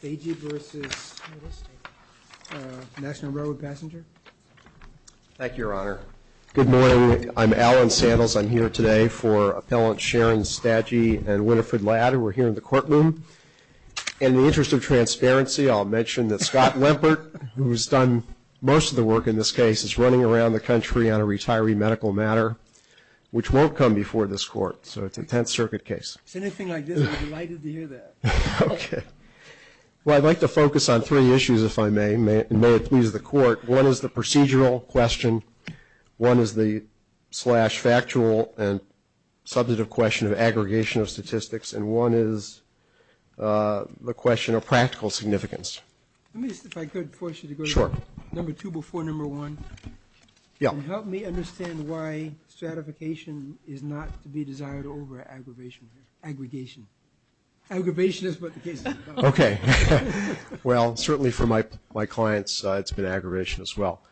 Stagi v. National Railroad Passenger Thank you, Your Honor. Good morning. I'm Alan Sandals. I'm here today for Appellant Sharon Stagi and Winifred Ladd, who are here in the courtroom. In the interest of transparency, I'll mention that Scott Lempert, who has done most of the work in this case, is running around the country on a retiree medical matter, which won't come before this Court, so it's a Tenth Circuit case. If it's anything like this, I'd be delighted to hear that. Okay. Well, I'd like to focus on three issues, if I may, and may it please the Court. One is the procedural question, one is the slash factual and subjective question of aggregation of statistics, and one is the question of practical significance. Let me just, if I could, force you to go to number two before number one. Yeah. Help me understand why stratification is not to be desired over aggravation, aggregation. Aggravation is what the case is about. Okay. Well, certainly for my clients, it's been aggravation as well.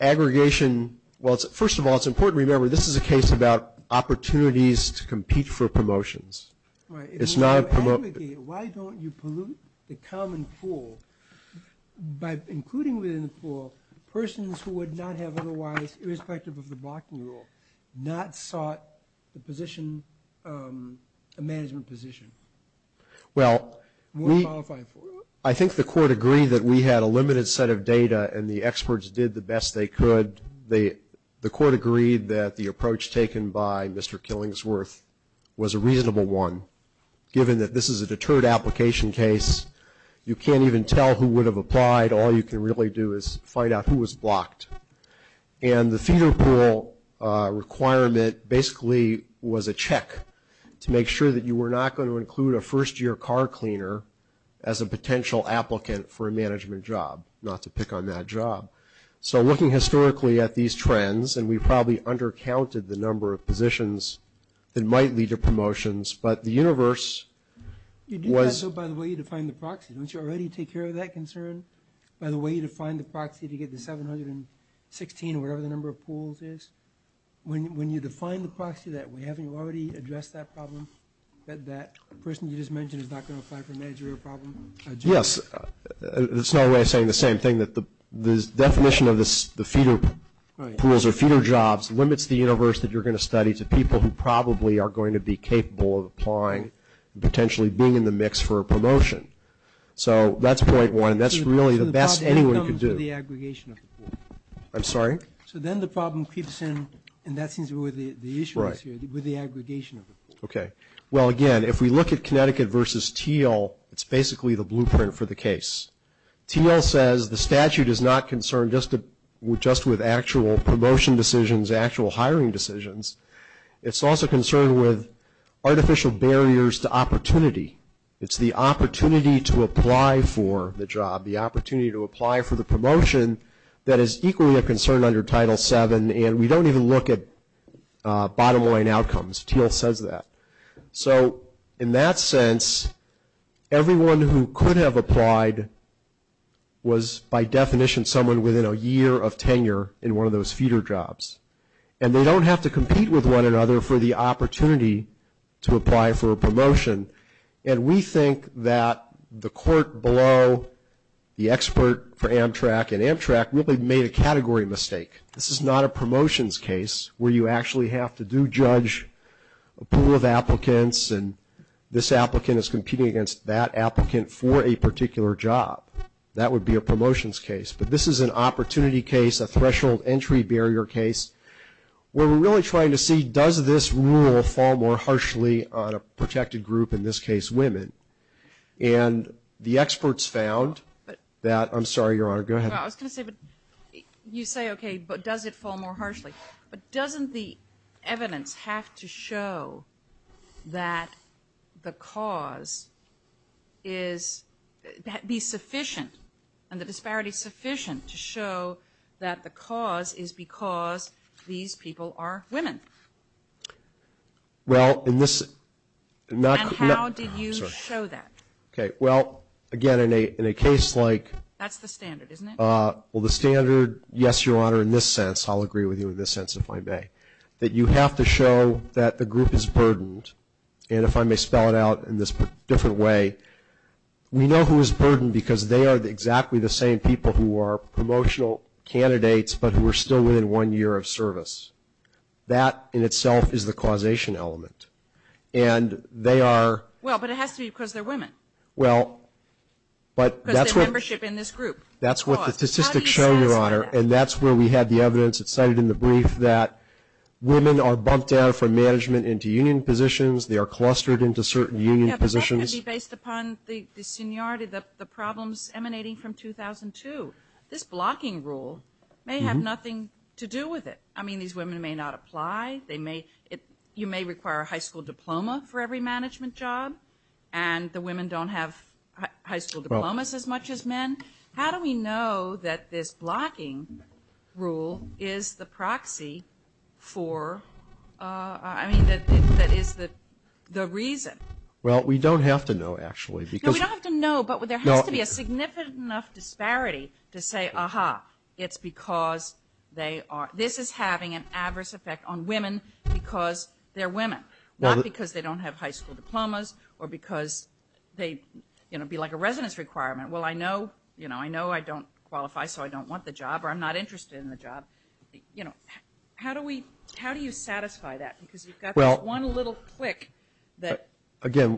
Aggregation, well, first of all, it's important to remember this is a case about opportunities to compete for promotions. Right. If you aggregate, why don't you pollute the common pool by including within the pool persons who would not have otherwise, irrespective of the blocking rule, not sought a management position? Well, I think the Court agreed that we had a limited set of data, and the experts did the best they could. The Court agreed that the approach taken by Mr. Killingsworth was a reasonable one, given that this is a deterred application case. You can't even tell who would have applied. All you can really do is find out who was blocked. And the feeder pool requirement basically was a check to make sure that you were not going to include a first-year car cleaner as a potential applicant for a management job, not to pick on that job. So looking historically at these trends, and we probably undercounted the number of positions that might lead to promotions, but the universe was – You do that so by the way you define the proxy. Don't you already take care of that concern by the way you define the proxy to get the 716 or whatever the number of pools is? When you define the proxy that way, haven't you already addressed that problem, that that person you just mentioned is not going to apply for a managerial problem? Yes. It's not a way of saying the same thing, that the definition of the feeder pools or feeder jobs limits the universe that you're going to study to people who probably are going to be capable of applying and potentially being in the mix for a promotion. So that's point one. That's really the best anyone could do. So then the problem comes with the aggregation of the pool. I'm sorry? So then the problem creeps in, and that seems to be where the issue is here, with the aggregation of the pool. Okay. Well, again, if we look at Connecticut versus Teal, it's basically the blueprint for the case. Teal says the statute is not concerned just with actual promotion decisions, actual hiring decisions. It's also concerned with artificial barriers to opportunity. It's the opportunity to apply for the job, the opportunity to apply for the promotion, that is equally a concern under Title VII, and we don't even look at bottom line outcomes. Teal says that. So in that sense, everyone who could have applied was, by definition, someone within a year of tenure in one of those feeder jobs, and they don't have to compete with one another for the opportunity to apply for a promotion, and we think that the court below, the expert for Amtrak, and Amtrak really made a category mistake. This is not a promotions case where you actually have to do judge a pool of applicants, and this applicant is competing against that applicant for a particular job. That would be a promotions case, but this is an opportunity case, a threshold entry barrier case, where we're really trying to see does this rule fall more harshly on a protected group, in this case women, and the experts found that – I'm sorry, Your Honor. Go ahead. Well, I was going to say, you say, okay, but does it fall more harshly, but doesn't the evidence have to show that the cause is – be sufficient and the disparity sufficient to show that the cause is because these people are women? Well, in this – And how do you show that? Okay, well, again, in a case like – That's the standard, isn't it? Well, the standard, yes, Your Honor, in this sense, I'll agree with you in this sense if I may, that you have to show that the group is burdened, and if I may spell it out in this different way, we know who is burdened because they are exactly the same people who are promotional candidates but who are still within one year of service. That in itself is the causation element, and they are – Well, but it has to be because they're women. Well, but that's what – That's what the statistics show, Your Honor, and that's where we have the evidence that's cited in the brief that women are bumped down from management into union positions. They are clustered into certain union positions. Yeah, but that could be based upon the seniority, the problems emanating from 2002. This blocking rule may have nothing to do with it. I mean, these women may not apply. They may – you may require a high school diploma for every management job, and the women don't have high school diplomas as much as men. How do we know that this blocking rule is the proxy for – I mean, that is the reason? Well, we don't have to know, actually, because – No, we don't have to know, but there has to be a significant enough disparity to say, aha, it's because they are – this is having an adverse effect on women because they're women, not because they don't have high school diplomas or because they, you know, be like a residence requirement. Well, I know – you know, I know I don't qualify so I don't want the job or I'm not interested in the job. You know, how do we – how do you satisfy that? Because you've got this one little click that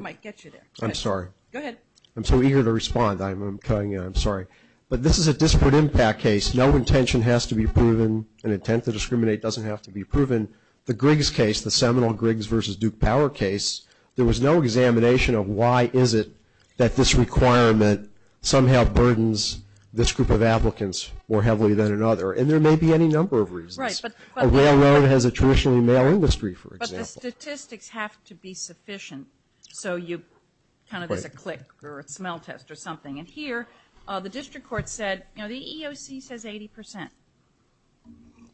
might get you there. I'm sorry. Go ahead. I'm so eager to respond. I'm sorry. But this is a disparate impact case. No intention has to be proven. An intent to discriminate doesn't have to be proven. The Griggs case, the seminal Griggs v. Duke Power case, there was no examination of why is it that this requirement somehow burdens this group of applicants more heavily than another, and there may be any number of reasons. Right, but – A railroad has a traditionally male industry, for example. But the statistics have to be sufficient so you kind of – Right. There's a click or a smell test or something. And here the district court said, you know, the EEOC says 80%.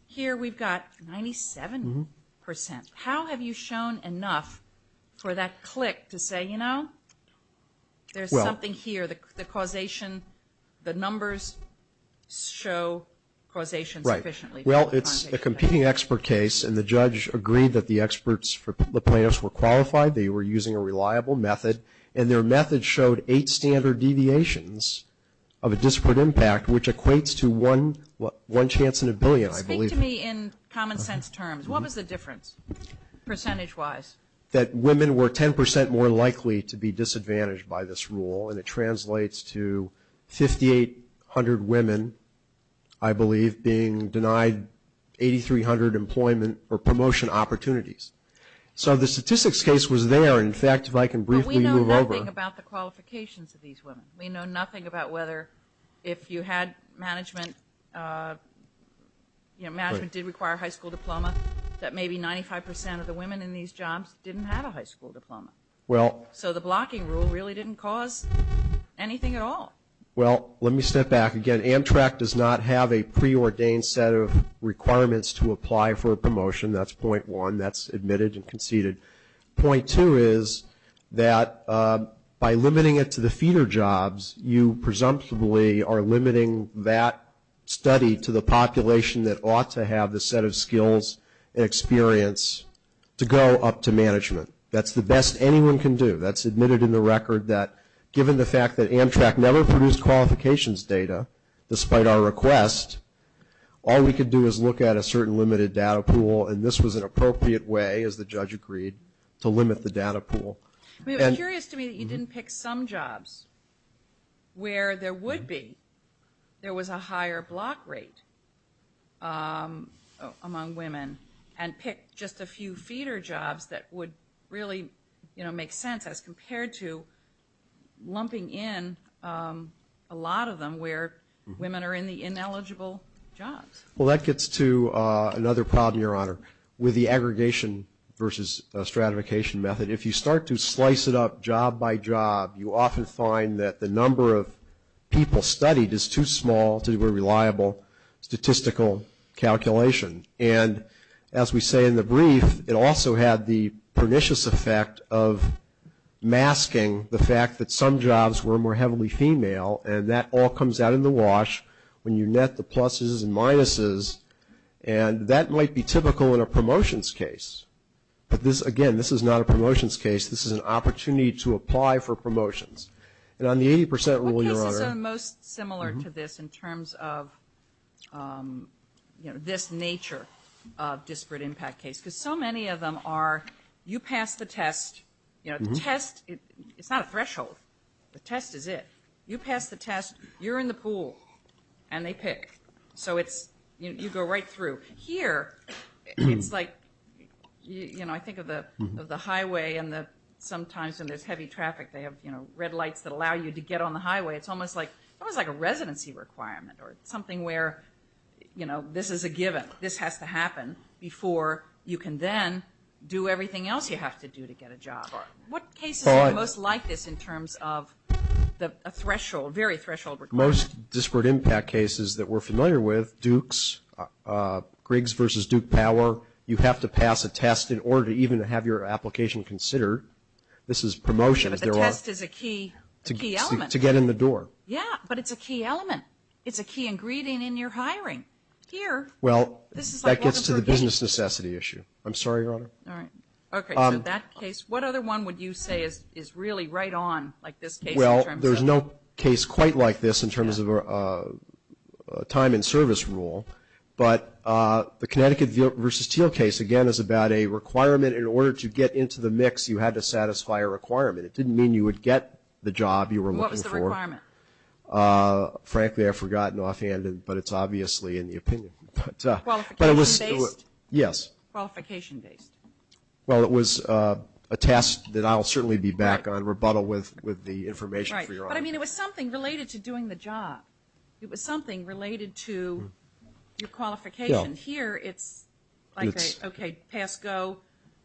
Here we've got 97%. How have you shown enough for that click to say, you know, there's something here. The causation, the numbers show causation sufficiently. Right. Well, it's a competing expert case, and the judge agreed that the experts, the plaintiffs were qualified. They were using a reliable method, and their method showed eight standard deviations of a disparate impact, which equates to one chance in a billion, I believe. Speak to me in common sense terms. What was the difference, percentage-wise? That women were 10% more likely to be disadvantaged by this rule, and it translates to 5,800 women, I believe, being denied 8,300 employment or promotion opportunities. So the statistics case was there. In fact, if I can briefly move over – But we know nothing about the qualifications of these women. We know nothing about whether if you had management, you know, management did require a high school diploma, that maybe 95% of the women in these jobs didn't have a high school diploma. So the blocking rule really didn't cause anything at all. Well, let me step back again. Amtrak does not have a preordained set of requirements to apply for a promotion. That's point one. That's admitted and conceded. Point two is that by limiting it to the feeder jobs, you presumptively are limiting that study to the population that ought to have the set of skills and experience to go up to management. That's the best anyone can do. That's admitted in the record that given the fact that Amtrak never produced qualifications data, despite our request, all we could do is look at a certain limited data pool, and this was an appropriate way, as the judge agreed, to limit the data pool. I mean, it's curious to me that you didn't pick some jobs where there would be, there was a higher block rate among women, and pick just a few feeder jobs that would really, you know, make sense as compared to lumping in a lot of them where women are in the ineligible jobs. Well, that gets to another problem, Your Honor, with the aggregation versus stratification method. If you start to slice it up job by job, you often find that the number of people studied is too small to do a reliable statistical calculation, and as we say in the brief, it also had the pernicious effect of masking the fact that some jobs were more heavily female, and that all comes out in the wash. When you net the pluses and minuses, and that might be typical in a promotions case, but this, again, this is not a promotions case. This is an opportunity to apply for promotions, and on the 80 percent rule, Your Honor. What cases are most similar to this in terms of, you know, this nature of disparate impact case? Because so many of them are you pass the test, you know, the test, it's not a threshold. The test is it. You pass the test, you're in the pool, and they pick. So you go right through. Here, it's like, you know, I think of the highway and sometimes when there's heavy traffic, they have, you know, red lights that allow you to get on the highway. It's almost like a residency requirement or something where, you know, this is a given. This has to happen before you can then do everything else you have to do to get a job. What cases are most like this in terms of a threshold, very threshold requirement? Most disparate impact cases that we're familiar with, Dukes, Griggs versus Duke Power, you have to pass a test in order to even have your application considered. This is promotions. But the test is a key element. To get in the door. Yeah, but it's a key element. It's a key ingredient in your hiring. Here, this is like. I'm sorry, Your Honor. All right. Okay, so that case. What other one would you say is really right on like this case in terms of. Well, there's no case quite like this in terms of a time and service rule. But the Connecticut versus Teal case, again, is about a requirement. In order to get into the mix, you had to satisfy a requirement. It didn't mean you would get the job you were looking for. What was the requirement? Frankly, I've forgotten offhand, but it's obviously in the opinion. Qualification based? Yes. Qualification based. Well, it was a test that I'll certainly be back on, rebuttal with the information for Your Honor. But, I mean, it was something related to doing the job. It was something related to your qualification. Here, it's like a, okay, pass, go,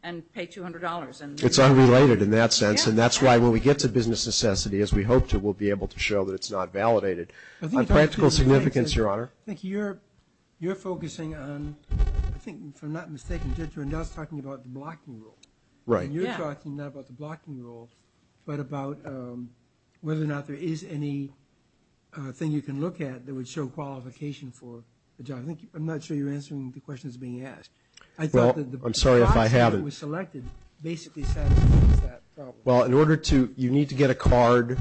and pay $200. It's unrelated in that sense. And that's why when we get to business necessity, as we hope to, we'll be able to show that it's not validated. On practical significance, Your Honor. I think you're focusing on, I think, if I'm not mistaken, you're not talking about the blocking rule. Right. And you're talking not about the blocking rule, but about whether or not there is anything you can look at that would show qualification for the job. I'm not sure you're answering the questions being asked. I'm sorry if I haven't. Well, I'm sorry if I haven't. Basically satisfying that problem. Well, in order to, you need to get a card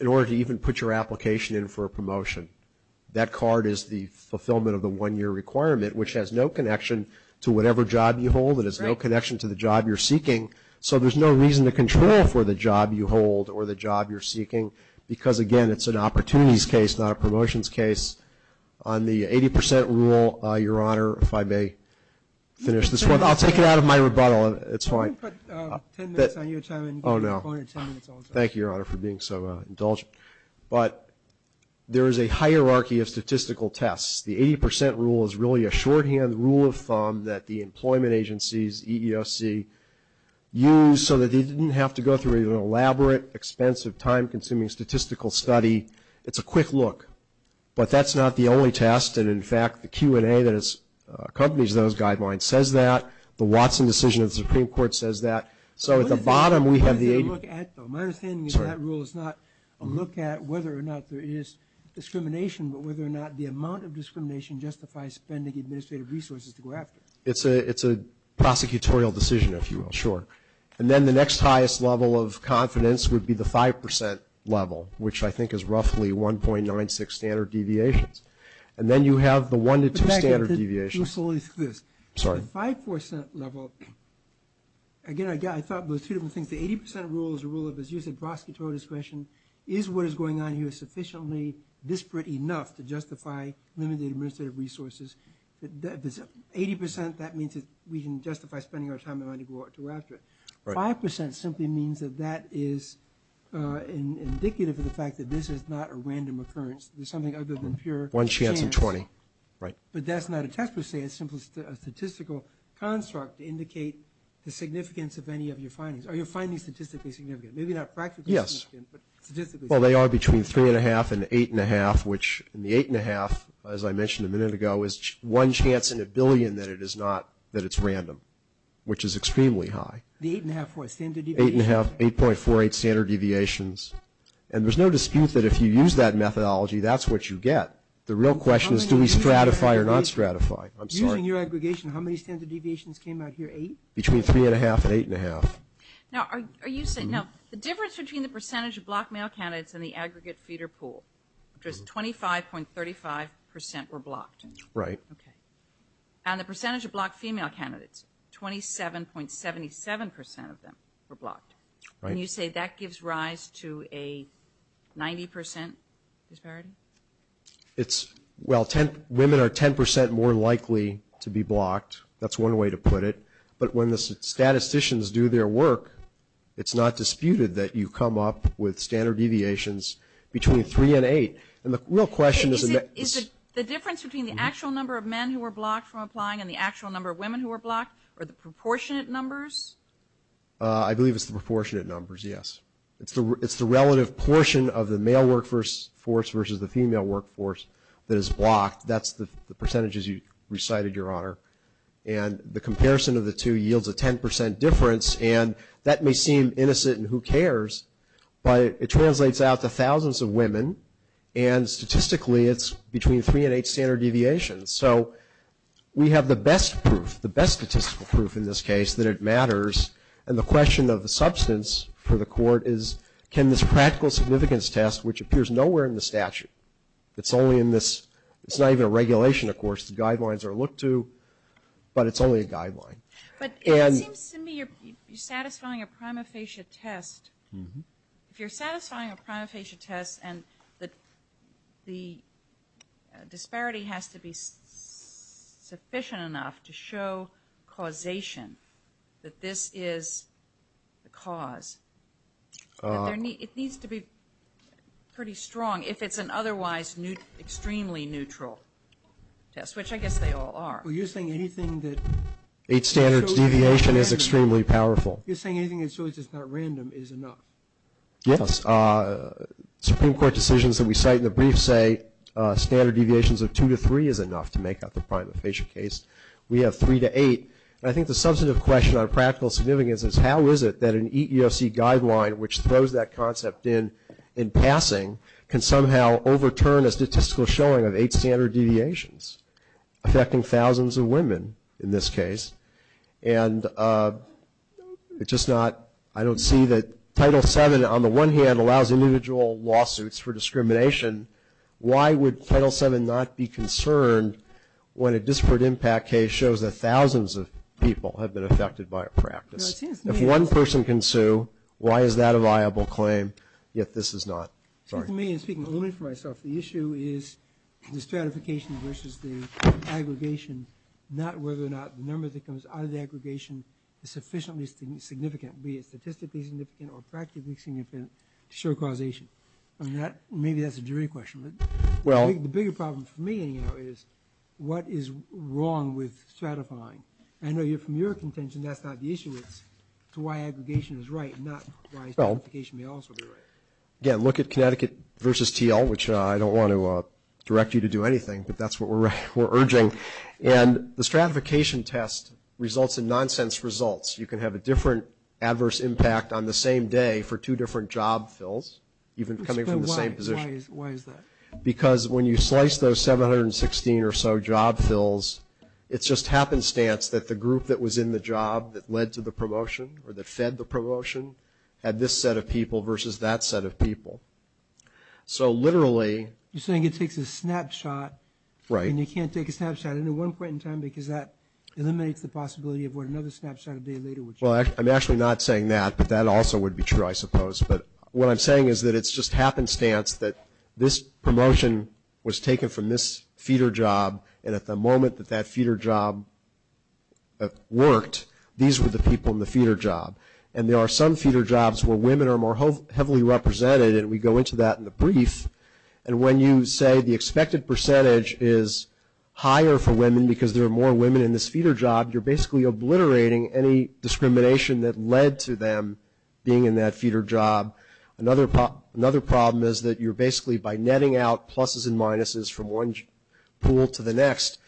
in order to even put your application in for a promotion. That card is the fulfillment of the one-year requirement, which has no connection to whatever job you hold. Right. It has no connection to the job you're seeking. So there's no reason to control for the job you hold or the job you're seeking because, again, it's an opportunities case, not a promotions case. On the 80% rule, Your Honor, if I may finish this one. I'll take it out of my rebuttal. It's fine. I can put 10 minutes on your time. Oh, no. Thank you, Your Honor, for being so indulgent. But there is a hierarchy of statistical tests. The 80% rule is really a shorthand rule of thumb that the employment agencies, EEOC, use so that they didn't have to go through an elaborate, expensive, time-consuming statistical study. It's a quick look. But that's not the only test. And, in fact, the Q&A that accompanies those guidelines says that. The Watson decision of the Supreme Court says that. So at the bottom we have the 80% rule. My understanding of that rule is not a look at whether or not there is discrimination, but whether or not the amount of discrimination justifies spending administrative resources to go after it. It's a prosecutorial decision, if you will. Sure. And then the next highest level of confidence would be the 5% level, which I think is roughly 1.96 standard deviations. And then you have the one to two standard deviations. The 5% level, again, I thought of those two different things. The 80% rule is a rule of, as you said, prosecutorial discretion. Is what is going on here sufficiently disparate enough to justify limited administrative resources? 80%, that means we can justify spending our time and money to go after it. Right. 5% simply means that that is indicative of the fact that this is not a random occurrence. There's something other than pure chance. One chance in 20. Right. But that's not a test per se. It's simply a statistical construct to indicate the significance of any of your findings. Are your findings statistically significant? Maybe not practically significant. Yes. But statistically significant. Well, they are between 3.5 and 8.5, which in the 8.5, as I mentioned a minute ago, is one chance in a billion that it is not, that it's random, which is extremely high. The 8.5 for a standard deviation? 8.48 standard deviations. And there's no dispute that if you use that methodology, that's what you get. The real question is do we stratify or not stratify? I'm sorry. Using your aggregation, how many standard deviations came out here? Eight? Between 3.5 and 8.5. Now, the difference between the percentage of blocked male candidates and the aggregate feeder pool, just 25.35% were blocked. Right. Okay. And the percentage of blocked female candidates, 27.77% of them were blocked. Right. And you say that gives rise to a 90% disparity? Well, women are 10% more likely to be blocked. That's one way to put it. But when the statisticians do their work, it's not disputed that you come up with standard deviations between 3 and 8. And the real question is that the difference between the actual number of men who are blocked from applying and the actual number of women who are blocked are the proportionate numbers? I believe it's the proportionate numbers, yes. It's the relative portion of the male workforce versus the female workforce that is blocked. That's the percentages you recited, Your Honor. And the comparison of the two yields a 10% difference, and that may seem innocent and who cares, but it translates out to thousands of women, and statistically it's between 3 and 8 standard deviations. So we have the best proof, the best statistical proof in this case, that it matters, and the question of the substance for the court is, can this practical significance test, which appears nowhere in the statute, guidelines are looked to, but it's only a guideline. But it seems to me you're satisfying a prima facie test. If you're satisfying a prima facie test and the disparity has to be sufficient enough to show causation, that this is the cause, it needs to be pretty strong if it's an otherwise extremely neutral test, which I guess they all are. Well, you're saying anything that 8 standards deviation is extremely powerful. You're saying anything that's really just not random is enough. Yes. Supreme Court decisions that we cite in the brief say standard deviations of 2 to 3 is enough to make up the prima facie case. We have 3 to 8. I think the substantive question on practical significance is, how is it that an EEOC guideline, which throws that concept in in passing, can somehow overturn a statistical showing of 8 standard deviations, affecting thousands of women in this case? And I don't see that Title VII, on the one hand, allows individual lawsuits for discrimination. Why would Title VII not be concerned when a disparate impact case shows that thousands of people have been affected by a practice? If one person can sue, why is that a viable claim, yet this is not? To me, and speaking only for myself, the issue is the stratification versus the aggregation, not whether or not the number that comes out of the aggregation is sufficiently significant, be it statistically significant or practically significant to show causation. Maybe that's a jury question. The bigger problem for me, anyhow, is what is wrong with stratifying? I know from your contention that's not the issue. It's to why aggregation is right, not why stratification may also be right. Again, look at Connecticut versus TL, which I don't want to direct you to do anything, but that's what we're urging. And the stratification test results in nonsense results. You can have a different adverse impact on the same day for two different job fills, even coming from the same position. Why is that? Because when you slice those 716 or so job fills, it's just happenstance that the group that was in the job that led to the promotion or that fed the promotion had this set of people versus that set of people. So literally – You're saying it takes a snapshot. Right. And you can't take a snapshot at any one point in time because that eliminates the possibility of what another snapshot a day later would show. Well, I'm actually not saying that, but that also would be true, I suppose. But what I'm saying is that it's just happenstance that this promotion was taken from this feeder job, and at the moment that that feeder job worked, these were the people in the feeder job. And there are some feeder jobs where women are more heavily represented, and we go into that in the brief. And when you say the expected percentage is higher for women because there are more women in this feeder job, you're basically obliterating any discrimination that led to them being in that feeder job. Another problem is that you're basically by netting out pluses and minuses from one pool to the next,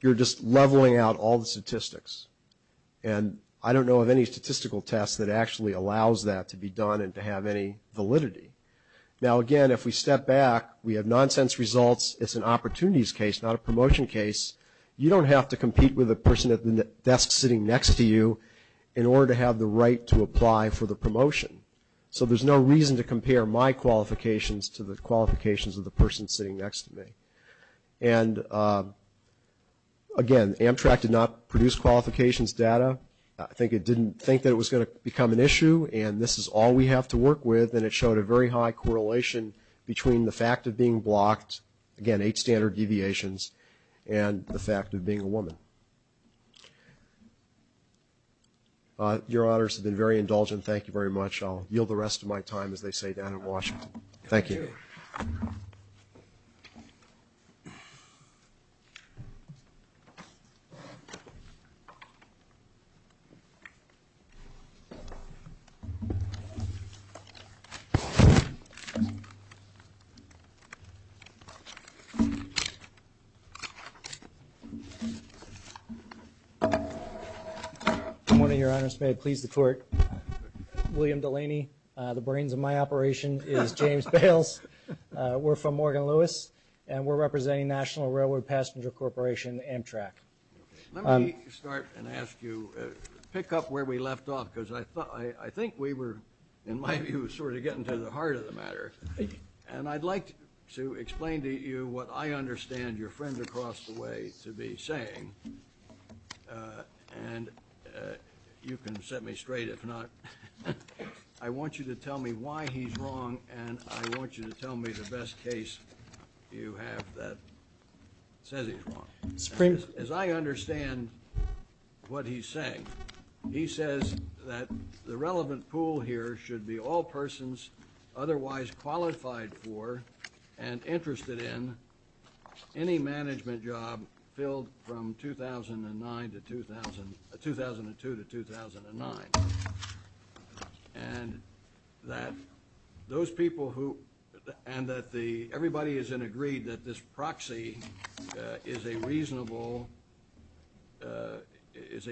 you're just leveling out all the statistics. And I don't know of any statistical test that actually allows that to be done and to have any validity. Now, again, if we step back, we have nonsense results. It's an opportunities case, not a promotion case. You don't have to compete with the person at the desk sitting next to you in order to have the right to apply for the promotion. So there's no reason to compare my qualifications to the qualifications of the person sitting next to me. And, again, Amtrak did not produce qualifications data. I think it didn't think that it was going to become an issue, and this is all we have to work with, and it showed a very high correlation between the fact of being blocked, again, eight standard deviations, and the fact of being a woman. Your honors have been very indulgent. Thank you very much. I'll yield the rest of my time, as they say down in Washington. Thank you. Good morning, your honors. May it please the court. William Delaney. The brains of my operation is James Bales. We're from Morgan Lewis, and we're representing National Railroad Passenger Corporation Amtrak. Let me start and ask you, pick up where we left off, because I think we were, in my view, sort of getting to the heart of the matter. And I'd like to explain to you what I understand your friend across the way to be saying, and you can set me straight if not. I want you to tell me why he's wrong, and I want you to tell me the best case you have that says he's wrong. As I understand what he's saying, he says that the relevant pool here should be all persons otherwise qualified for and interested in any management job filled from 2002 to 2009, and that everybody is in agree that this proxy is a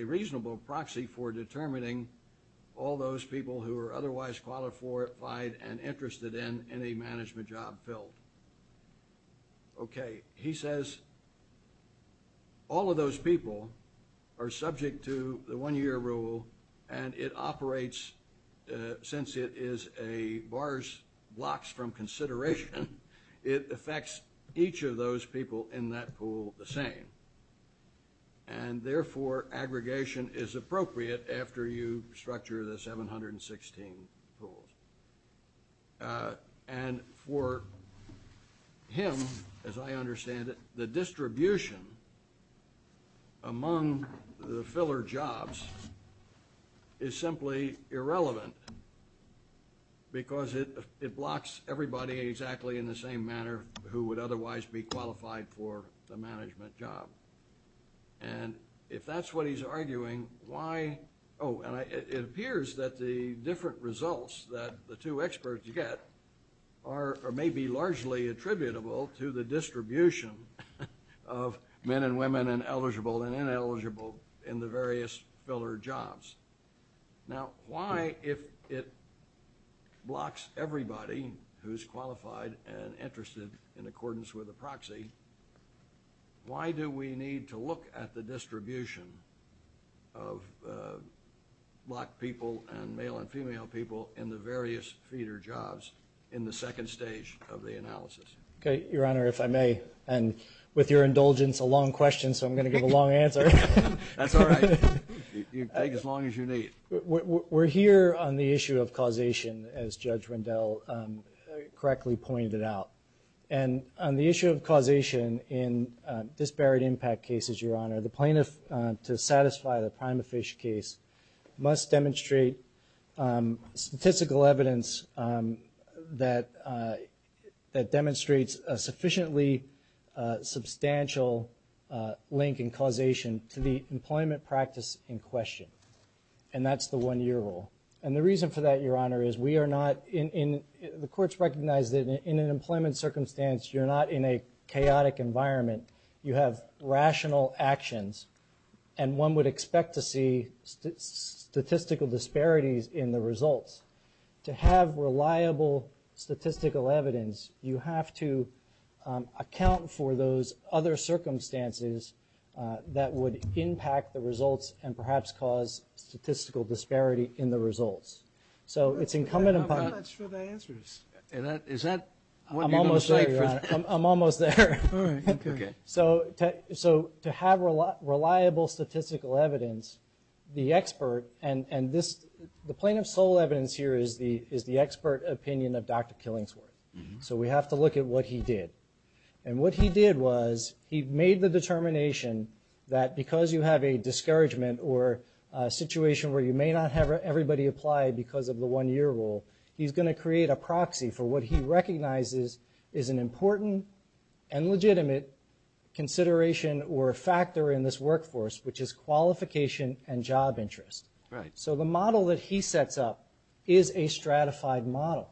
reasonable proxy for determining all those people who are otherwise qualified and interested in any management job filled. Okay. He says all of those people are subject to the one-year rule, and it operates since it is a bars blocks from consideration. It affects each of those people in that pool the same, and therefore aggregation is appropriate after you structure the 716 pools. And for him, as I understand it, the distribution among the filler jobs is simply irrelevant because it blocks everybody exactly in the same manner who would otherwise be qualified for the management job. And if that's what he's arguing, why – oh, and it appears that the different results that the two experts get may be largely attributable to the distribution of men and women and eligible and ineligible in the various filler jobs. Now, why, if it blocks everybody who's qualified and interested in accordance with a proxy, why do we need to look at the distribution of black people and male and female people in the various feeder jobs in the second stage of the analysis? Okay. Your Honor, if I may, and with your indulgence, a long question, so I'm going to give a long answer. That's all right. You can take as long as you need. We're here on the issue of causation, as Judge Rendell correctly pointed out. And on the issue of causation in disparate impact cases, Your Honor, the plaintiff, to satisfy the prima facie case, must demonstrate statistical evidence that demonstrates a sufficiently substantial link in causation to the employment practice in question. And that's the one-year rule. And the reason for that, Your Honor, is we are not in the courts recognize that in an employment circumstance, you're not in a chaotic environment. You have rational actions, and one would expect to see statistical disparities in the results. To have reliable statistical evidence, you have to account for those other circumstances that would impact the results and perhaps cause statistical disparity in the results. So it's incumbent upon you. I'm not sure the answer is. Is that what you're going to say? I'm almost there, Your Honor. I'm almost there. All right. Okay. So to have reliable statistical evidence, the expert, and the plaintiff's sole evidence here is the expert opinion of Dr. Killingsworth. So we have to look at what he did. And what he did was he made the determination that because you have a discouragement or a situation where you may not have everybody apply because of the one-year rule, he's going to create a proxy for what he recognizes is an important and legitimate consideration or factor in this workforce, which is qualification and job interest. Right. So the model that he sets up is a stratified model.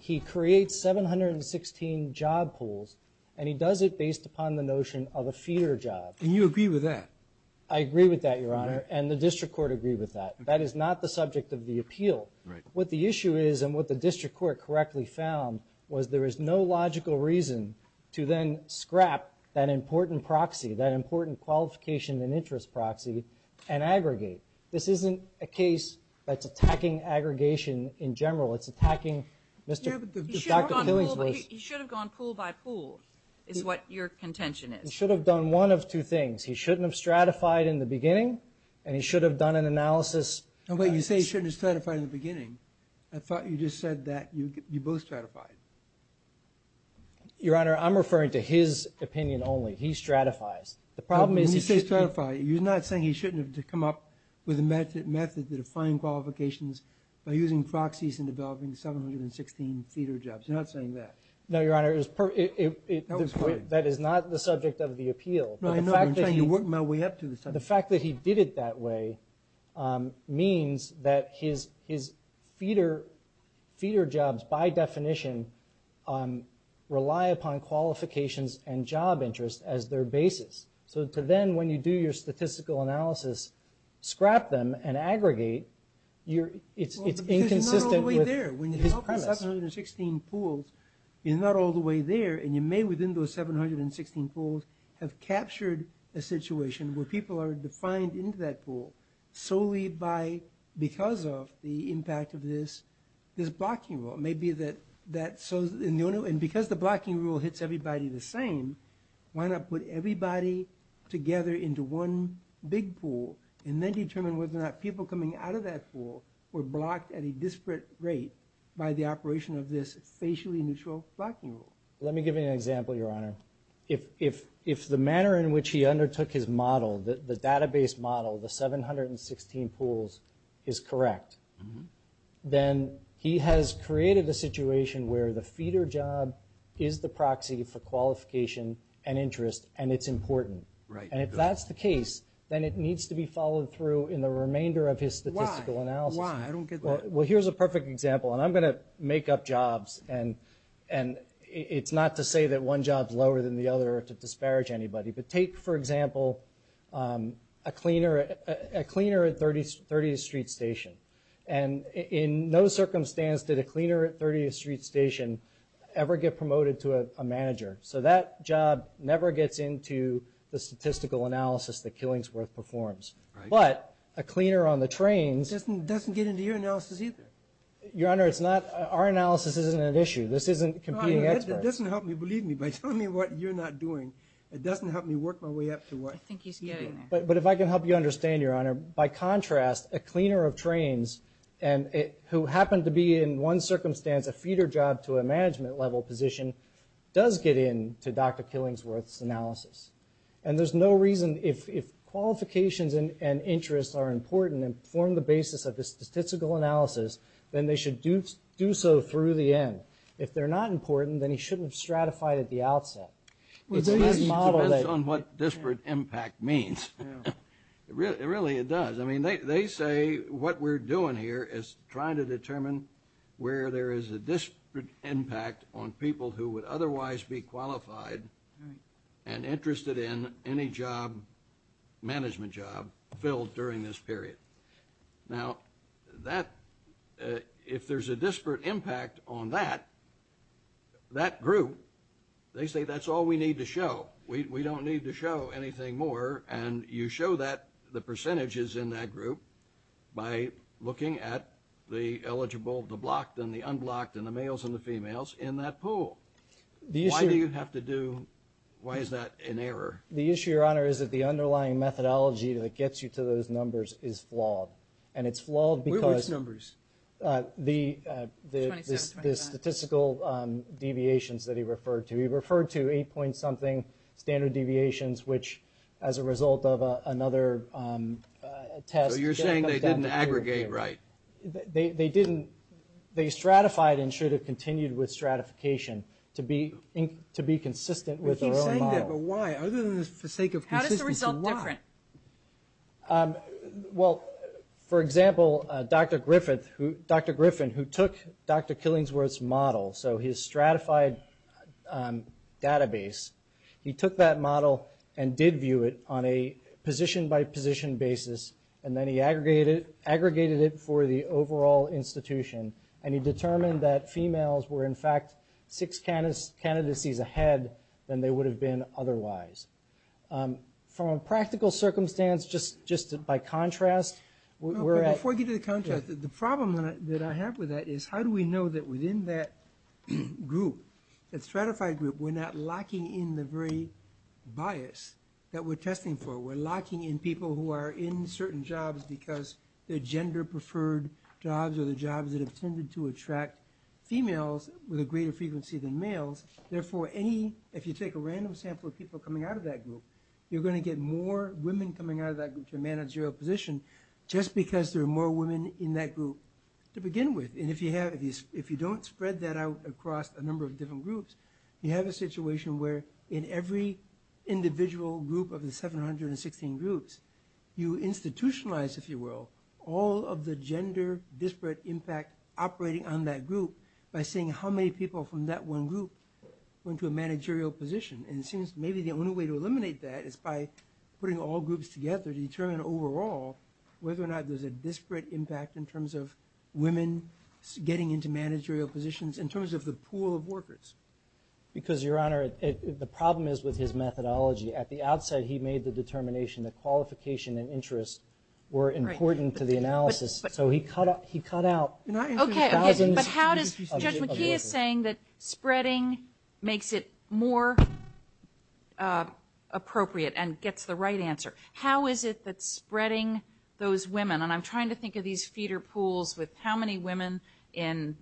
He creates 716 job pools, and he does it based upon the notion of a feeder job. And you agree with that? I agree with that, Your Honor, and the district court agreed with that. That is not the subject of the appeal. Right. What the issue is and what the district court correctly found was there is no logical reason to then scrap that important proxy, that important qualification and interest proxy, and aggregate. This isn't a case that's attacking aggregation in general. It's attacking Dr. Killing's rules. He should have gone pool by pool is what your contention is. He should have done one of two things. He shouldn't have stratified in the beginning, and he should have done an analysis. No, but you say he shouldn't have stratified in the beginning. I thought you just said that you both stratified. Your Honor, I'm referring to his opinion only. He stratifies. When you say stratify, you're not saying he shouldn't have come up with a method to define qualifications by using proxies and developing 716 feeder jobs. You're not saying that. No, Your Honor. That is not the subject of the appeal. I'm trying to work my way up to the subject. The fact that he did it that way means that his feeder jobs, by definition, rely upon qualifications and job interest as their basis. Then when you do your statistical analysis, scrap them and aggregate, it's inconsistent with his premise. It's not all the way there. When you develop the 716 pools, it's not all the way there, and you may within those 716 pools have captured a situation where people are defined into that pool solely because of the impact of this blocking rule. Because the blocking rule hits everybody the same, why not put everybody together into one big pool and then determine whether or not people coming out of that pool were blocked at a disparate rate by the operation of this facially neutral blocking rule? Let me give you an example, Your Honor. If the manner in which he undertook his model, the database model, the 716 pools, is correct, then he has created a situation where the feeder job is the proxy for qualification and interest, and it's important. And if that's the case, then it needs to be followed through in the remainder of his statistical analysis. Why? I don't get that. Well, here's a perfect example, and I'm going to make up jobs. And it's not to say that one job is lower than the other to disparage anybody. But take, for example, a cleaner at 30th Street Station. And in no circumstance did a cleaner at 30th Street Station ever get promoted to a manager. So that job never gets into the statistical analysis that Killingsworth performs. But a cleaner on the trains. It doesn't get into your analysis either. Your Honor, our analysis isn't an issue. This isn't competing experts. It doesn't help me. Believe me, by telling me what you're not doing, it doesn't help me work my way up to what you do. I think he's getting there. But if I can help you understand, Your Honor, by contrast, a cleaner of trains who happened to be in one circumstance a feeder job to a management-level position does get into Dr. Killingsworth's analysis. And there's no reason, if qualifications and interests are important and form the basis of the statistical analysis, then they should do so through the end. If they're not important, then he shouldn't have stratified at the outset. It's his model that... Well, it depends on what disparate impact means. Really, it does. I mean, they say what we're doing here is trying to determine where there is a disparate impact on people who would otherwise be qualified and interested in any job, management job, filled during this period. Now, if there's a disparate impact on that, that group, they say that's all we need to show. We don't need to show anything more. And you show that, the percentages in that group, by looking at the eligible, the blocked, and the unblocked, and the males and the females in that pool. Why do you have to do... Why is that an error? The issue, Your Honor, is that the underlying methodology that gets you to those numbers is flawed. And it's flawed because... Which numbers? The statistical deviations that he referred to. He referred to 8-point-something standard deviations, which as a result of another test... So you're saying they didn't aggregate right. They didn't. They stratified and should have continued with stratification to be consistent with their own model. But he's saying that, but why? Other than for the sake of consistency, why? How does the result differ? Well, for example, Dr. Griffin, who took Dr. Killingsworth's model, so his stratified database, he took that model and did view it on a position-by-position basis, and then he aggregated it for the overall institution, and he determined that females were, in fact, six candidacies ahead than they would have been otherwise. From a practical circumstance, just by contrast... Before I get to the contrast, the problem that I have with that is, how do we know that within that group, that stratified group, we're not locking in the very bias that we're testing for? We're locking in people who are in certain jobs because they're gender-preferred jobs or the jobs that have tended to attract females with a greater frequency than males. Therefore, if you take a random sample of people coming out of that group, you're going to get more women coming out of that group to a managerial position just because there are more women in that group to begin with. And if you don't spread that out across a number of different groups, you have a situation where, in every individual group of the 716 groups, you institutionalize, if you will, all of the gender disparate impact operating on that group by seeing how many people from that one group went to a managerial position. And it seems maybe the only way to eliminate that is by putting all groups together to determine overall whether or not there's a disparate impact in terms of women getting into managerial positions, in terms of the pool of workers. Because, Your Honor, the problem is with his methodology. At the outset, he made the determination that qualification and interest were important to the analysis. So he cut out thousands of workers. Okay, but how does... Judge McKee is saying that spreading makes it more appropriate and gets the right answer. How is it that spreading those women... And I'm trying to think of these feeder pools with how many women in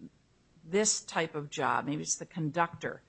this type of job, maybe it's the conductor,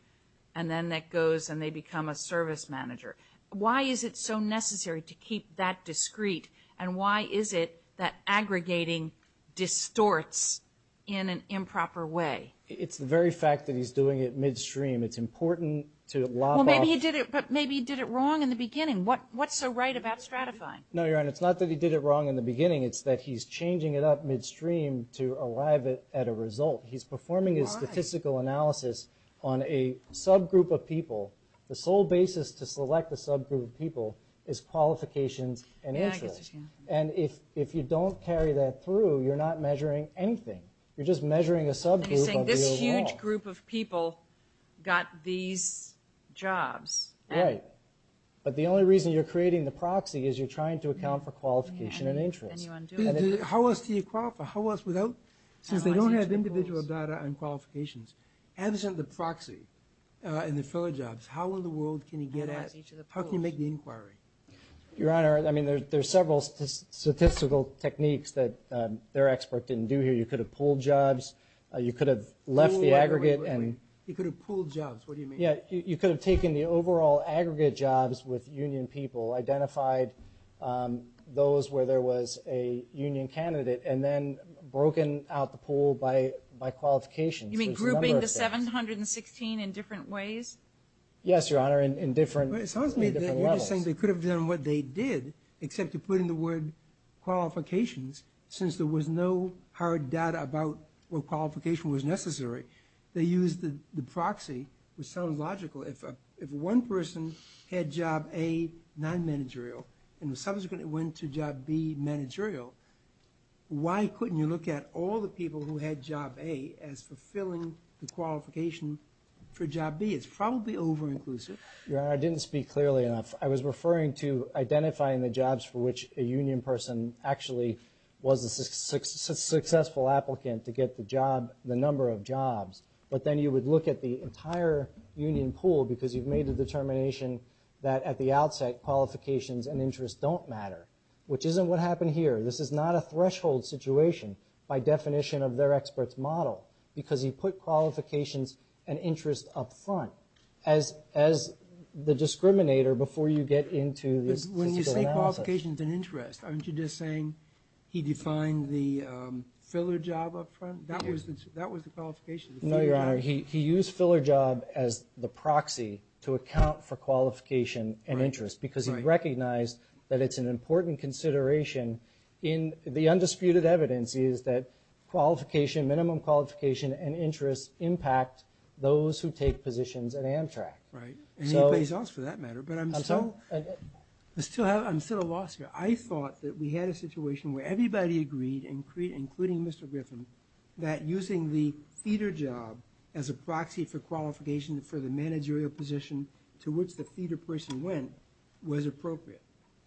and then that goes and they become a service manager. Why is it so necessary to keep that discreet? And why is it that aggregating distorts in an improper way? It's the very fact that he's doing it midstream. It's important to... Well, maybe he did it wrong in the beginning. What's so right about stratifying? No, Your Honor, it's not that he did it wrong in the beginning. It's that he's changing it up midstream to arrive at a result. He's performing his statistical analysis on a subgroup of people. The sole basis to select a subgroup of people is qualifications and interest. And if you don't carry that through, you're not measuring anything. You're just measuring a subgroup of the overall. He's saying this huge group of people got these jobs. Right. But the only reason you're creating the proxy is you're trying to account for qualification and interest. How else do you qualify? Since they don't have individual data on qualifications, absent the proxy and the fellow jobs, how in the world can you get at... How can you make the inquiry? Your Honor, I mean, there's several statistical techniques that their expert didn't do here. You could have pooled jobs. You could have left the aggregate and... He could have pooled jobs. What do you mean? You could have taken the overall aggregate jobs with union people, identified those where there was a union candidate, and then broken out the pool by qualifications. You mean grouping the 716 in different ways? Yes, Your Honor, in different levels. It sounds to me that you're saying they could have done what they did except to put in the word qualifications since there was no hard data about what qualification was necessary. They used the proxy, which sounds logical. If one person had job A, non-managerial, and subsequently went to job B, managerial, why couldn't you look at all the people who had job A as fulfilling the qualification for job B? It's probably over-inclusive. Your Honor, I didn't speak clearly enough. I was referring to identifying the jobs for which a union person actually was a successful applicant to get the job, the number of jobs. But then you would look at the entire union pool because you've made the determination that at the outset qualifications and interest don't matter, which isn't what happened here. This is not a threshold situation by definition of their expert's model because you put qualifications and interest up front as the discriminator before you get into the statistical analysis. When you say qualifications and interest, aren't you just saying he defined the filler job up front? That was the qualification. No, Your Honor, he used filler job as the proxy to account for qualification and interest because he recognized that it's an important consideration. The undisputed evidence is that qualification, minimum qualification and interest impact those who take positions at Amtrak. Right, and anybody else for that matter. But I'm still at a loss here. I thought that we had a situation where everybody agreed, including Mr. Griffin, that using the feeder job as a proxy for qualification for the managerial position to which the feeder person went was appropriate.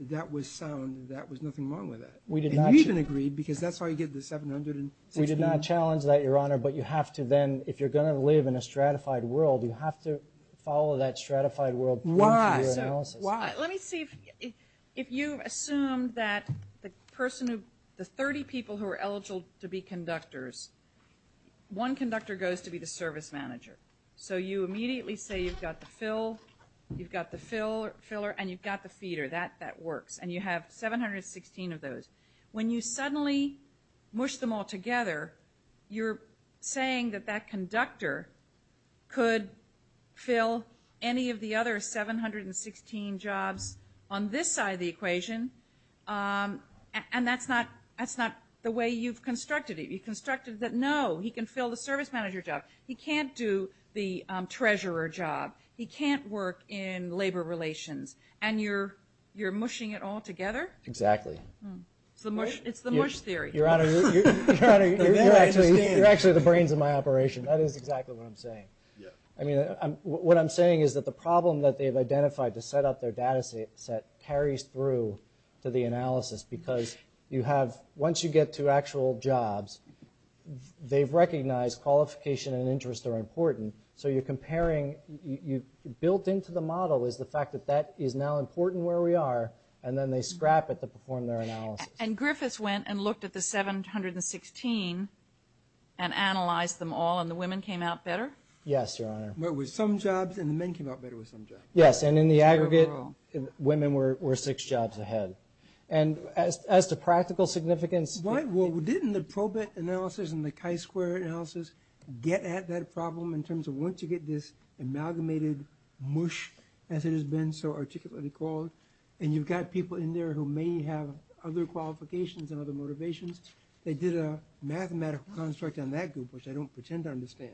That was sound. There was nothing wrong with that. And you even agreed because that's how you get the 716. We did not challenge that, Your Honor, but if you're going to live in a stratified world, you have to follow that stratified world into your analysis. Let me see if you assume that the 30 people who are eligible to be conductors, one conductor goes to be the service manager. So you immediately say you've got the filler and you've got the feeder. That works. And you have 716 of those. When you suddenly mush them all together, you're saying that that conductor could fill any of the other 716 jobs on this side of the equation and that's not the way you've constructed it. You've constructed that, no, he can fill the service manager job. He can't do the treasurer job. He can't work in labor relations. And you're mushing it all together? Exactly. It's the mush theory. That is exactly what I'm saying. What I'm saying is that the problem that they've identified to set up their data set carries through to the analysis because once you get to actual jobs, they've recognized qualification and interest are important, so you're comparing, built into the model is the fact that that is now important where we are and then they scrap it to perform their analysis. And Griffiths went and looked at the 716 and analyzed them all and the women came out better? Yes, Your Honor. There were some jobs and the men came out better with some jobs. Yes, and in the aggregate, women were six jobs ahead. And as to practical significance... Well, didn't the probate analysis and the chi-square analysis get at that problem in terms of once you get this amalgamated mush, as it has been so articulately called, and you've got people in there who may have other qualifications and other motivations, they did a mathematical construct on that group, which I don't pretend to understand,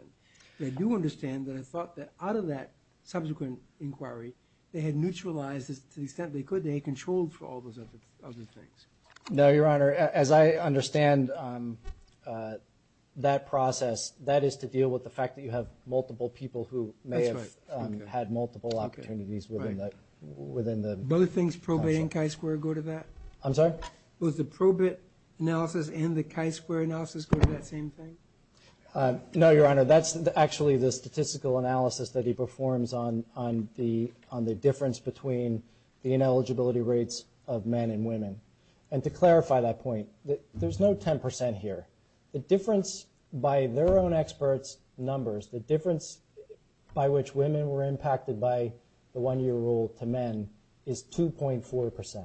but I do understand that I thought that out of that subsequent inquiry, they had neutralized to the extent they could, they had control for all those other things. No, Your Honor, as I understand that process, that is to deal with the fact that you have multiple people who may have had multiple opportunities within the... Do other things probate and chi-square go to that? I'm sorry? Was the probate analysis and the chi-square analysis go to that same thing? No, Your Honor, that's actually the statistical analysis that he performs on the difference between the ineligibility rates of men and women. And to clarify that point, there's no 10% here. The difference by their own experts' numbers, the difference by which women were impacted by the one-year rule to men is 2.4%.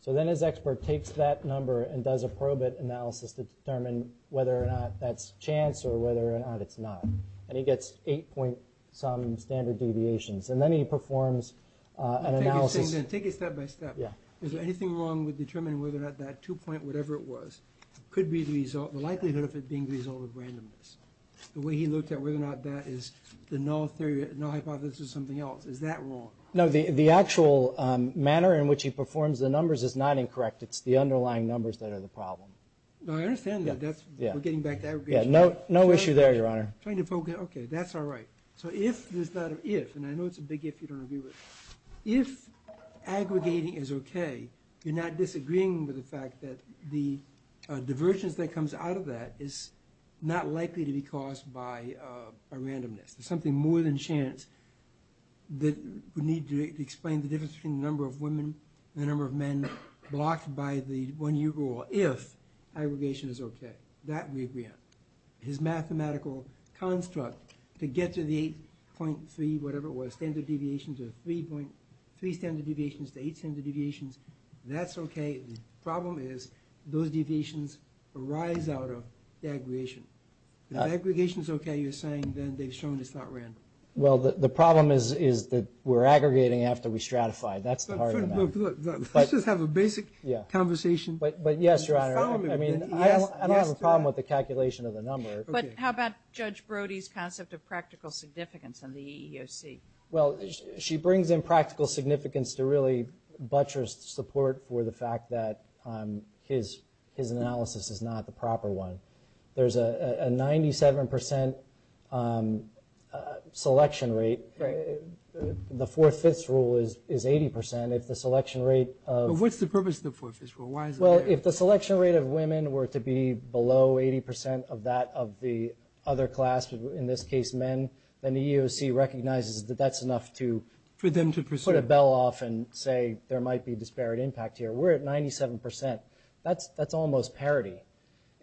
So then his expert takes that number and does a probate analysis to determine whether or not that's chance or whether or not it's not. And he gets 8-point-some standard deviations. And then he performs an analysis... Take it step by step. Is there anything wrong with determining whether or not that 2-point-whatever-it-was could be the result, the likelihood of it being the result of randomness? The way he looked at whether or not that is the null hypothesis of something else, is that wrong? No, the actual manner in which he performs the numbers is not incorrect. It's the underlying numbers that are the problem. No, I understand that. We're getting back to aggregation. Yeah, no issue there, Your Honor. Okay, that's all right. So if there's not an if, and I know it's a big if you don't agree with, if aggregating is okay, you're not disagreeing with the fact that the divergence that comes out of that is not likely to be caused by randomness. There's something more than chance that we need to explain the difference between the number of women and the number of men blocked by the one-year rule if aggregation is okay. That we agree on. His mathematical construct to get to the 8.3-whatever-it-was standard deviations or 3 standard deviations to 8 standard deviations, that's okay. The problem is those deviations arise out of the aggregation. If aggregation's okay, you're saying, then they've shown it's not random. Well, the problem is that we're aggregating after we stratify. That's the heart of the matter. Let's just have a basic conversation. But yes, Your Honor. I don't have a problem with the calculation of the number. But how about Judge Brody's concept of practical significance in the EEOC? Well, she brings in practical significance to really butcher support for the fact that his analysis is not the proper one. There's a 97% selection rate. The fourth-fifths rule is 80%. If the selection rate of... What's the purpose of the fourth-fifths rule? Well, if the selection rate of women were to be below 80% of that of the other class, in this case men, then the EEOC recognizes that that's enough to put a bell off and say there might be disparate impact here. We're at 97%. That's almost parity.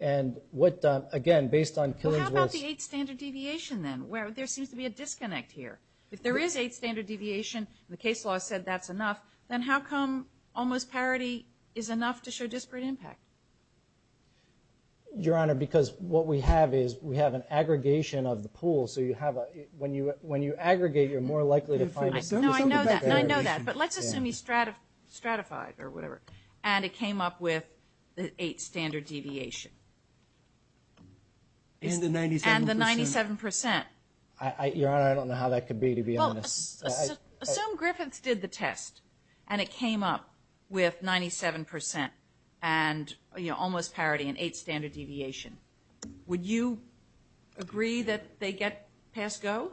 And what, again, based on... Well, how about the 8th standard deviation, then? There seems to be a disconnect here. If there is 8th standard deviation and the case law said that's enough, then how come almost parity is enough to show disparate impact? Your Honor, because what we have is we have an aggregation of the pool. So when you aggregate, you're more likely to find... No, I know that. No, I know that. But let's assume you stratified or whatever. And it came up with the 8th standard deviation. And the 97%. And the 97%. Your Honor, I don't know how that could be, to be honest. Well, assume Griffiths did the test and it came up with 97% and almost parity and 8th standard deviation. Would you agree that they get past Go?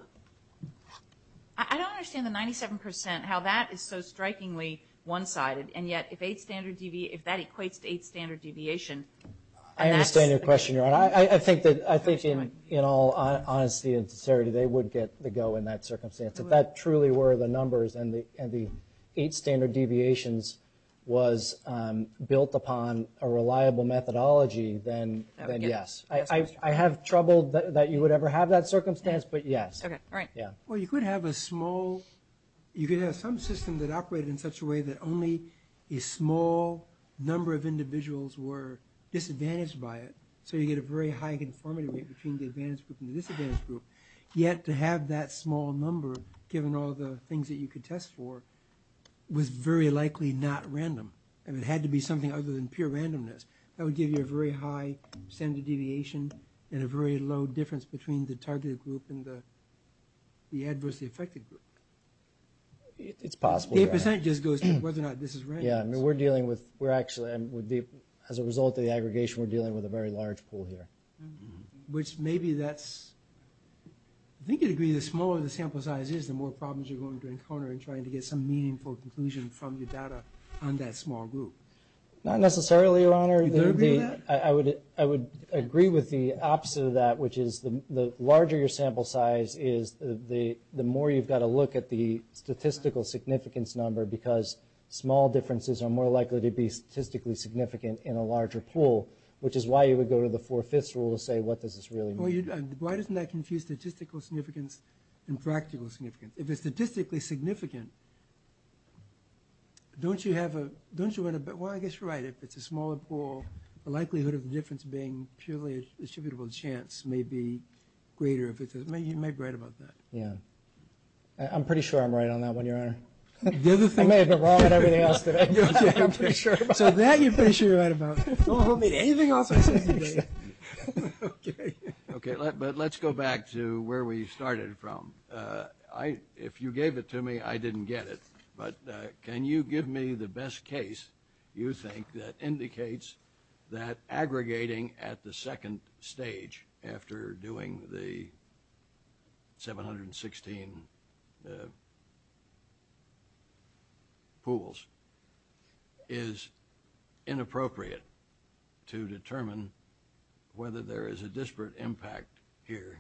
I don't understand the 97%, how that is so strikingly one-sided, and yet if that equates to 8th standard deviation... I understand your question, Your Honor. I think that in all honesty and sincerity, they would get the Go in that circumstance. If that truly were the numbers and the 8th standard deviations was built upon a reliable methodology, then yes. I have trouble that you would ever have that circumstance, but yes. Okay, all right. Well, you could have a small... that only a small number of individuals were disadvantaged by it, so you get a very high conformity rate between the advantaged group and the disadvantaged group. Yet to have that small number, given all the things that you could test for, was very likely not random. It had to be something other than pure randomness. That would give you a very high standard deviation and a very low difference between the targeted group and the adversely affected group. It's possible, Your Honor. 5% just goes to whether or not this is random. Yeah, I mean, we're dealing with... As a result of the aggregation, we're dealing with a very large pool here. Which maybe that's... I think you'd agree the smaller the sample size is, the more problems you're going to encounter in trying to get some meaningful conclusion from your data on that small group. Not necessarily, Your Honor. I would agree with the opposite of that, which is the larger your sample size is, the more you've got to look at the statistical significance number, because small differences are more likely to be statistically significant in a larger pool, which is why you would go to the four-fifths rule to say what does this really mean. Why doesn't that confuse statistical significance and practical significance? If it's statistically significant, don't you have a... Well, I guess you're right. If it's a smaller pool, the likelihood of the difference being purely a distributable chance may be greater. You may be right about that. I'm pretty sure I'm right on that one, Your Honor. I may have been wrong on everything else today. I'm pretty sure about that. So that you're pretty sure you're right about. Don't hold me to anything else I say today. Okay. But let's go back to where we started from. If you gave it to me, I didn't get it. But can you give me the best case you think that indicates that aggregating at the second stage after doing the 716 pools is inappropriate to determine whether there is a disparate impact here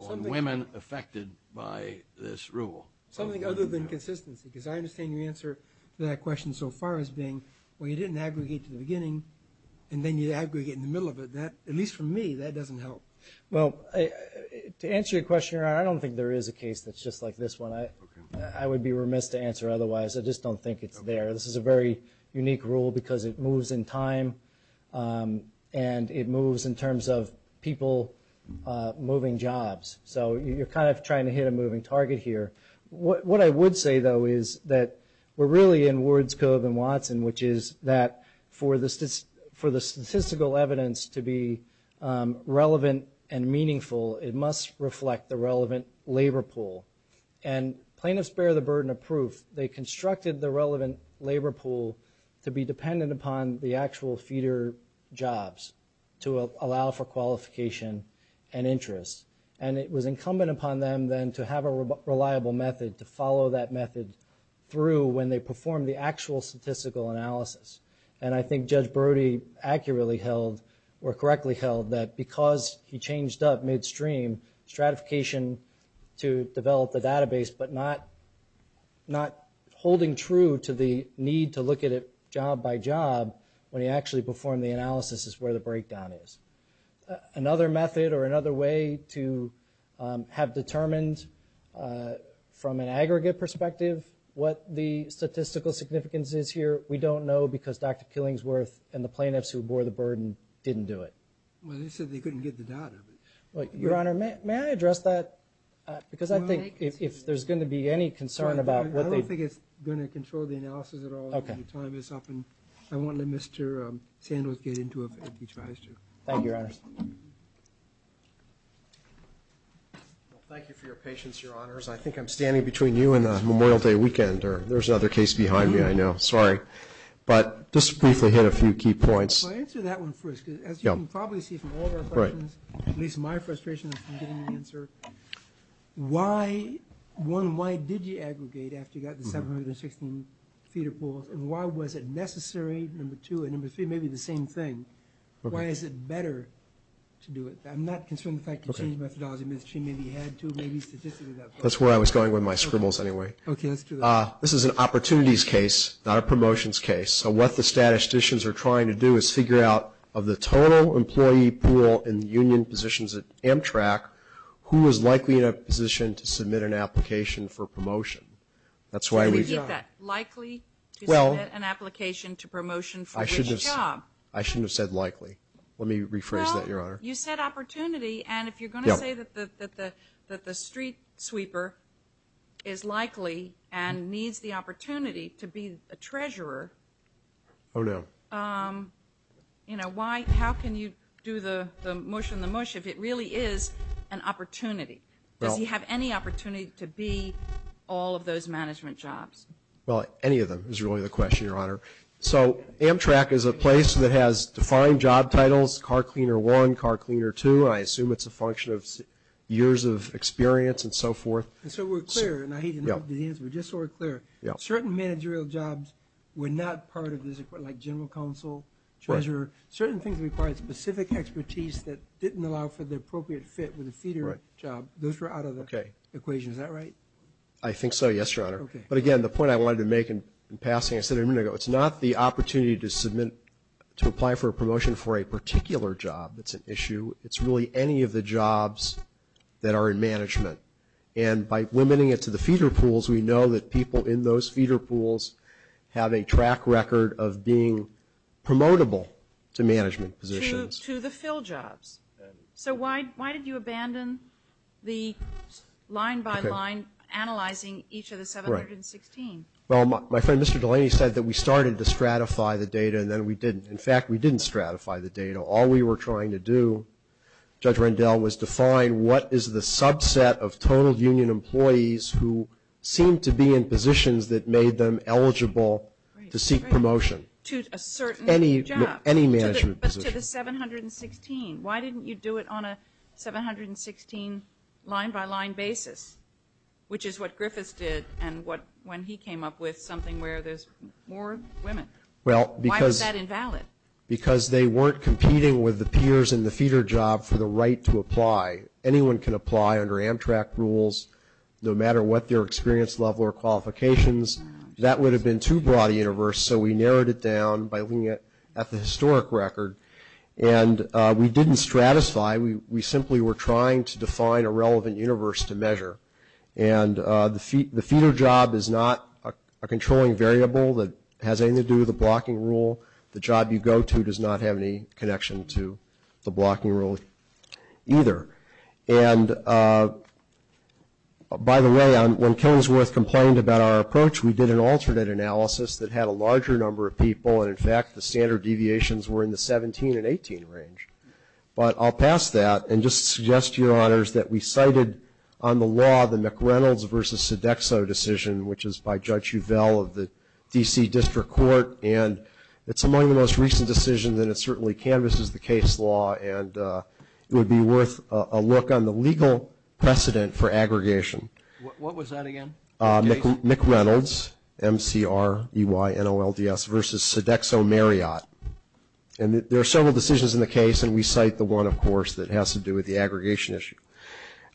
on women affected by this rule? Something other than consistency. Because I understand your answer to that question so far as being, well, you didn't aggregate to the beginning, and then you aggregate in the middle of it. At least for me, that doesn't help. Well, to answer your question, Your Honor, I don't think there is a case that's just like this one. I would be remiss to answer otherwise. I just don't think it's there. This is a very unique rule because it moves in time, and it moves in terms of people moving jobs. So you're kind of trying to hit a moving target here. What I would say, though, is that we're really in Ward's Cove and Watson, which is that for the statistical evidence to be relevant and meaningful, it must reflect the relevant labor pool. And plaintiffs bear the burden of proof. They constructed the relevant labor pool to be dependent upon the actual feeder jobs to allow for qualification and interest. And it was incumbent upon them, then, to have a reliable method, to follow that method through when they performed the actual statistical analysis. And I think Judge Brody accurately held, or correctly held, that because he changed up midstream, stratification to develop the database, but not holding true to the need to look at it job by job when he actually performed the analysis is where the breakdown is. Another method or another way to have determined from an aggregate perspective what the statistical significance is here, we don't know because Dr. Killingsworth and the plaintiffs who bore the burden didn't do it. Well, they said they couldn't get the data. Your Honor, may I address that? Because I think if there's going to be any concern about what they... I don't think it's going to control the analysis at all. The time is up, and I won't let Mr. Sandals get into it if he tries to. Thank you, Your Honor. Thank you for your patience, Your Honors. I think I'm standing between you and Memorial Day weekend. There's another case behind me, I know. Sorry. But just briefly hit a few key points. I'll answer that one first, because as you can probably see from all of our questions, at least my frustration from getting the answer, why, one, why did you aggregate after you got the 716 feeder pools, and why was it necessary, number two, and number three, maybe the same thing, why is it better to do it? I'm not concerned with the fact that you changed the methodology midstream, maybe you had to, maybe statistically... That's where I was going with my scribbles anyway. Okay, let's do that. This is an opportunities case, not a promotions case, so what the statisticians are trying to do is figure out of the total employee pool in the union positions at Amtrak, who is likely in a position to submit an application for promotion. That's why we... Did we get that? Likely to submit an application to promotion for which job? I shouldn't have said likely. Let me rephrase that, Your Honor. Well, you said opportunity, and if you're going to say that the street sweeper is likely and needs the opportunity to be a treasurer... Oh, no. You know, how can you do the mush in the mush if it really is an opportunity? Does he have any opportunity to be all of those management jobs? Well, any of them is really the question, Your Honor. So Amtrak is a place that has defined job titles, car cleaner one, car cleaner two, and I assume it's a function of years of experience and so forth. So we're clear, and I hate to interrupt, but just so we're clear, certain managerial jobs were not part of this, like general counsel, treasurer. Certain things required specific expertise that didn't allow for the appropriate fit with a feeder job. Those were out of the equation. Is that right? I think so, yes, Your Honor. But, again, the point I wanted to make in passing, I said a minute ago, it's not the opportunity to apply for a promotion for a particular job that's an issue. It's really any of the jobs that are in management. And by limiting it to the feeder pools, we know that people in those feeder pools have a track record of being promotable to management positions. To the fill jobs. So why did you abandon the line-by-line analyzing each of the 716? Well, my friend Mr. Delaney said that we started to stratify the data and then we didn't. In fact, we didn't stratify the data. All we were trying to do, Judge Rendell was to find what is the subset of total union employees who seem to be in positions that made them eligible to seek promotion. To a certain job. Any management position. But to the 716. Why didn't you do it on a 716 line-by-line basis, which is what Griffiths did and when he came up with something where there's more women? Why was that invalid? Because they weren't competing with the peers in the feeder job for the right to apply. Anyone can apply under Amtrak rules, no matter what their experience level or qualifications. That would have been too broad a universe, so we narrowed it down by looking at the historic record. And we didn't stratify. We simply were trying to define a relevant universe to measure. And the feeder job is not a controlling variable that has anything to do with a blocking rule. The job you go to does not have any connection to the blocking rule either. And, by the way, when Kensworth complained about our approach, we did an alternate analysis that had a larger number of people. And, in fact, the standard deviations were in the 17 and 18 range. But I'll pass that and just suggest to your honors that we cited on the law the McReynolds versus Sodexo decision, which is by Judge Uvell of the D.C. District Court. And it's among the most recent decisions, and it certainly canvases the case law. And it would be worth a look on the legal precedent for aggregation. What was that again? McReynolds, M-C-R-E-Y-N-O-L-D-S, versus Sodexo Marriott. And there are several decisions in the case, and we cite the one, of course, that has to do with the aggregation issue.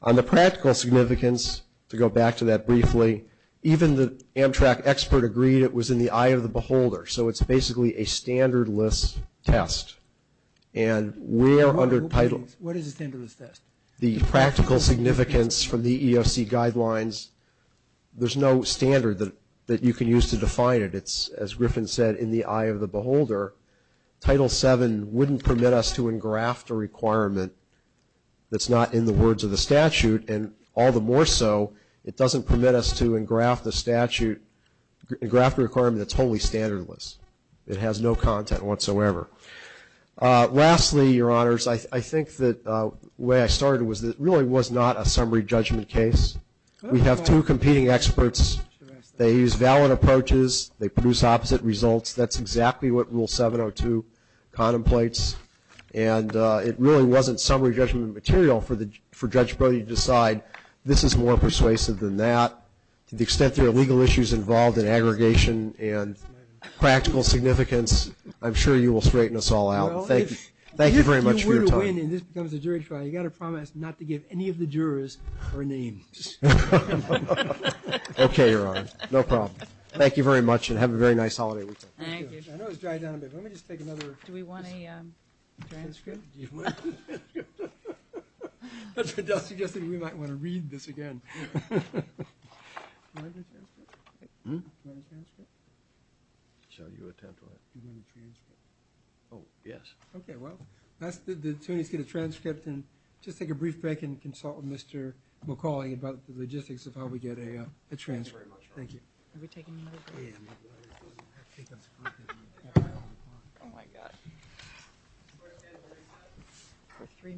On the practical significance, to go back to that briefly, even the Amtrak expert agreed it was in the eye of the beholder. So it's basically a standardless test. And we are under Title – What is a standardless test? The practical significance from the EEOC guidelines, there's no standard that you can use to define it. It's, as Griffin said, in the eye of the beholder. Title VII wouldn't permit us to engraft a requirement that's not in the words of the statute. And all the more so, it doesn't permit us to engraft the statute – engraft a requirement that's totally standardless. It has no content whatsoever. Lastly, Your Honors, I think the way I started was it really was not a summary judgment case. We have two competing experts. They use valid approaches. They produce opposite results. That's exactly what Rule 702 contemplates. And it really wasn't summary judgment material for Judge Brody to decide, this is more persuasive than that. To the extent there are legal issues involved in aggregation and practical significance, I'm sure you will straighten us all out. Thank you very much for your time. If you were to win and this becomes a jury trial, you've got to promise not to give any of the jurors her name. Okay, Your Honor. No problem. Thank you very much, and have a very nice holiday weekend. Thank you. I know it's dried down a bit. Let me just take another – Do we want a transcript? Do you want a transcript? I was suggesting we might want to read this again. Do you want a transcript? Hmm? Do you want a transcript? Shall you attempt one? Do you want a transcript? Oh, yes. Okay, well, the attorneys get a transcript, and just take a brief break and consult with Mr. McCauley about the logistics of how we get a transcript. Thank you very much, Your Honor. Thank you. Have we taken another break? Oh, my God. We're three minutes.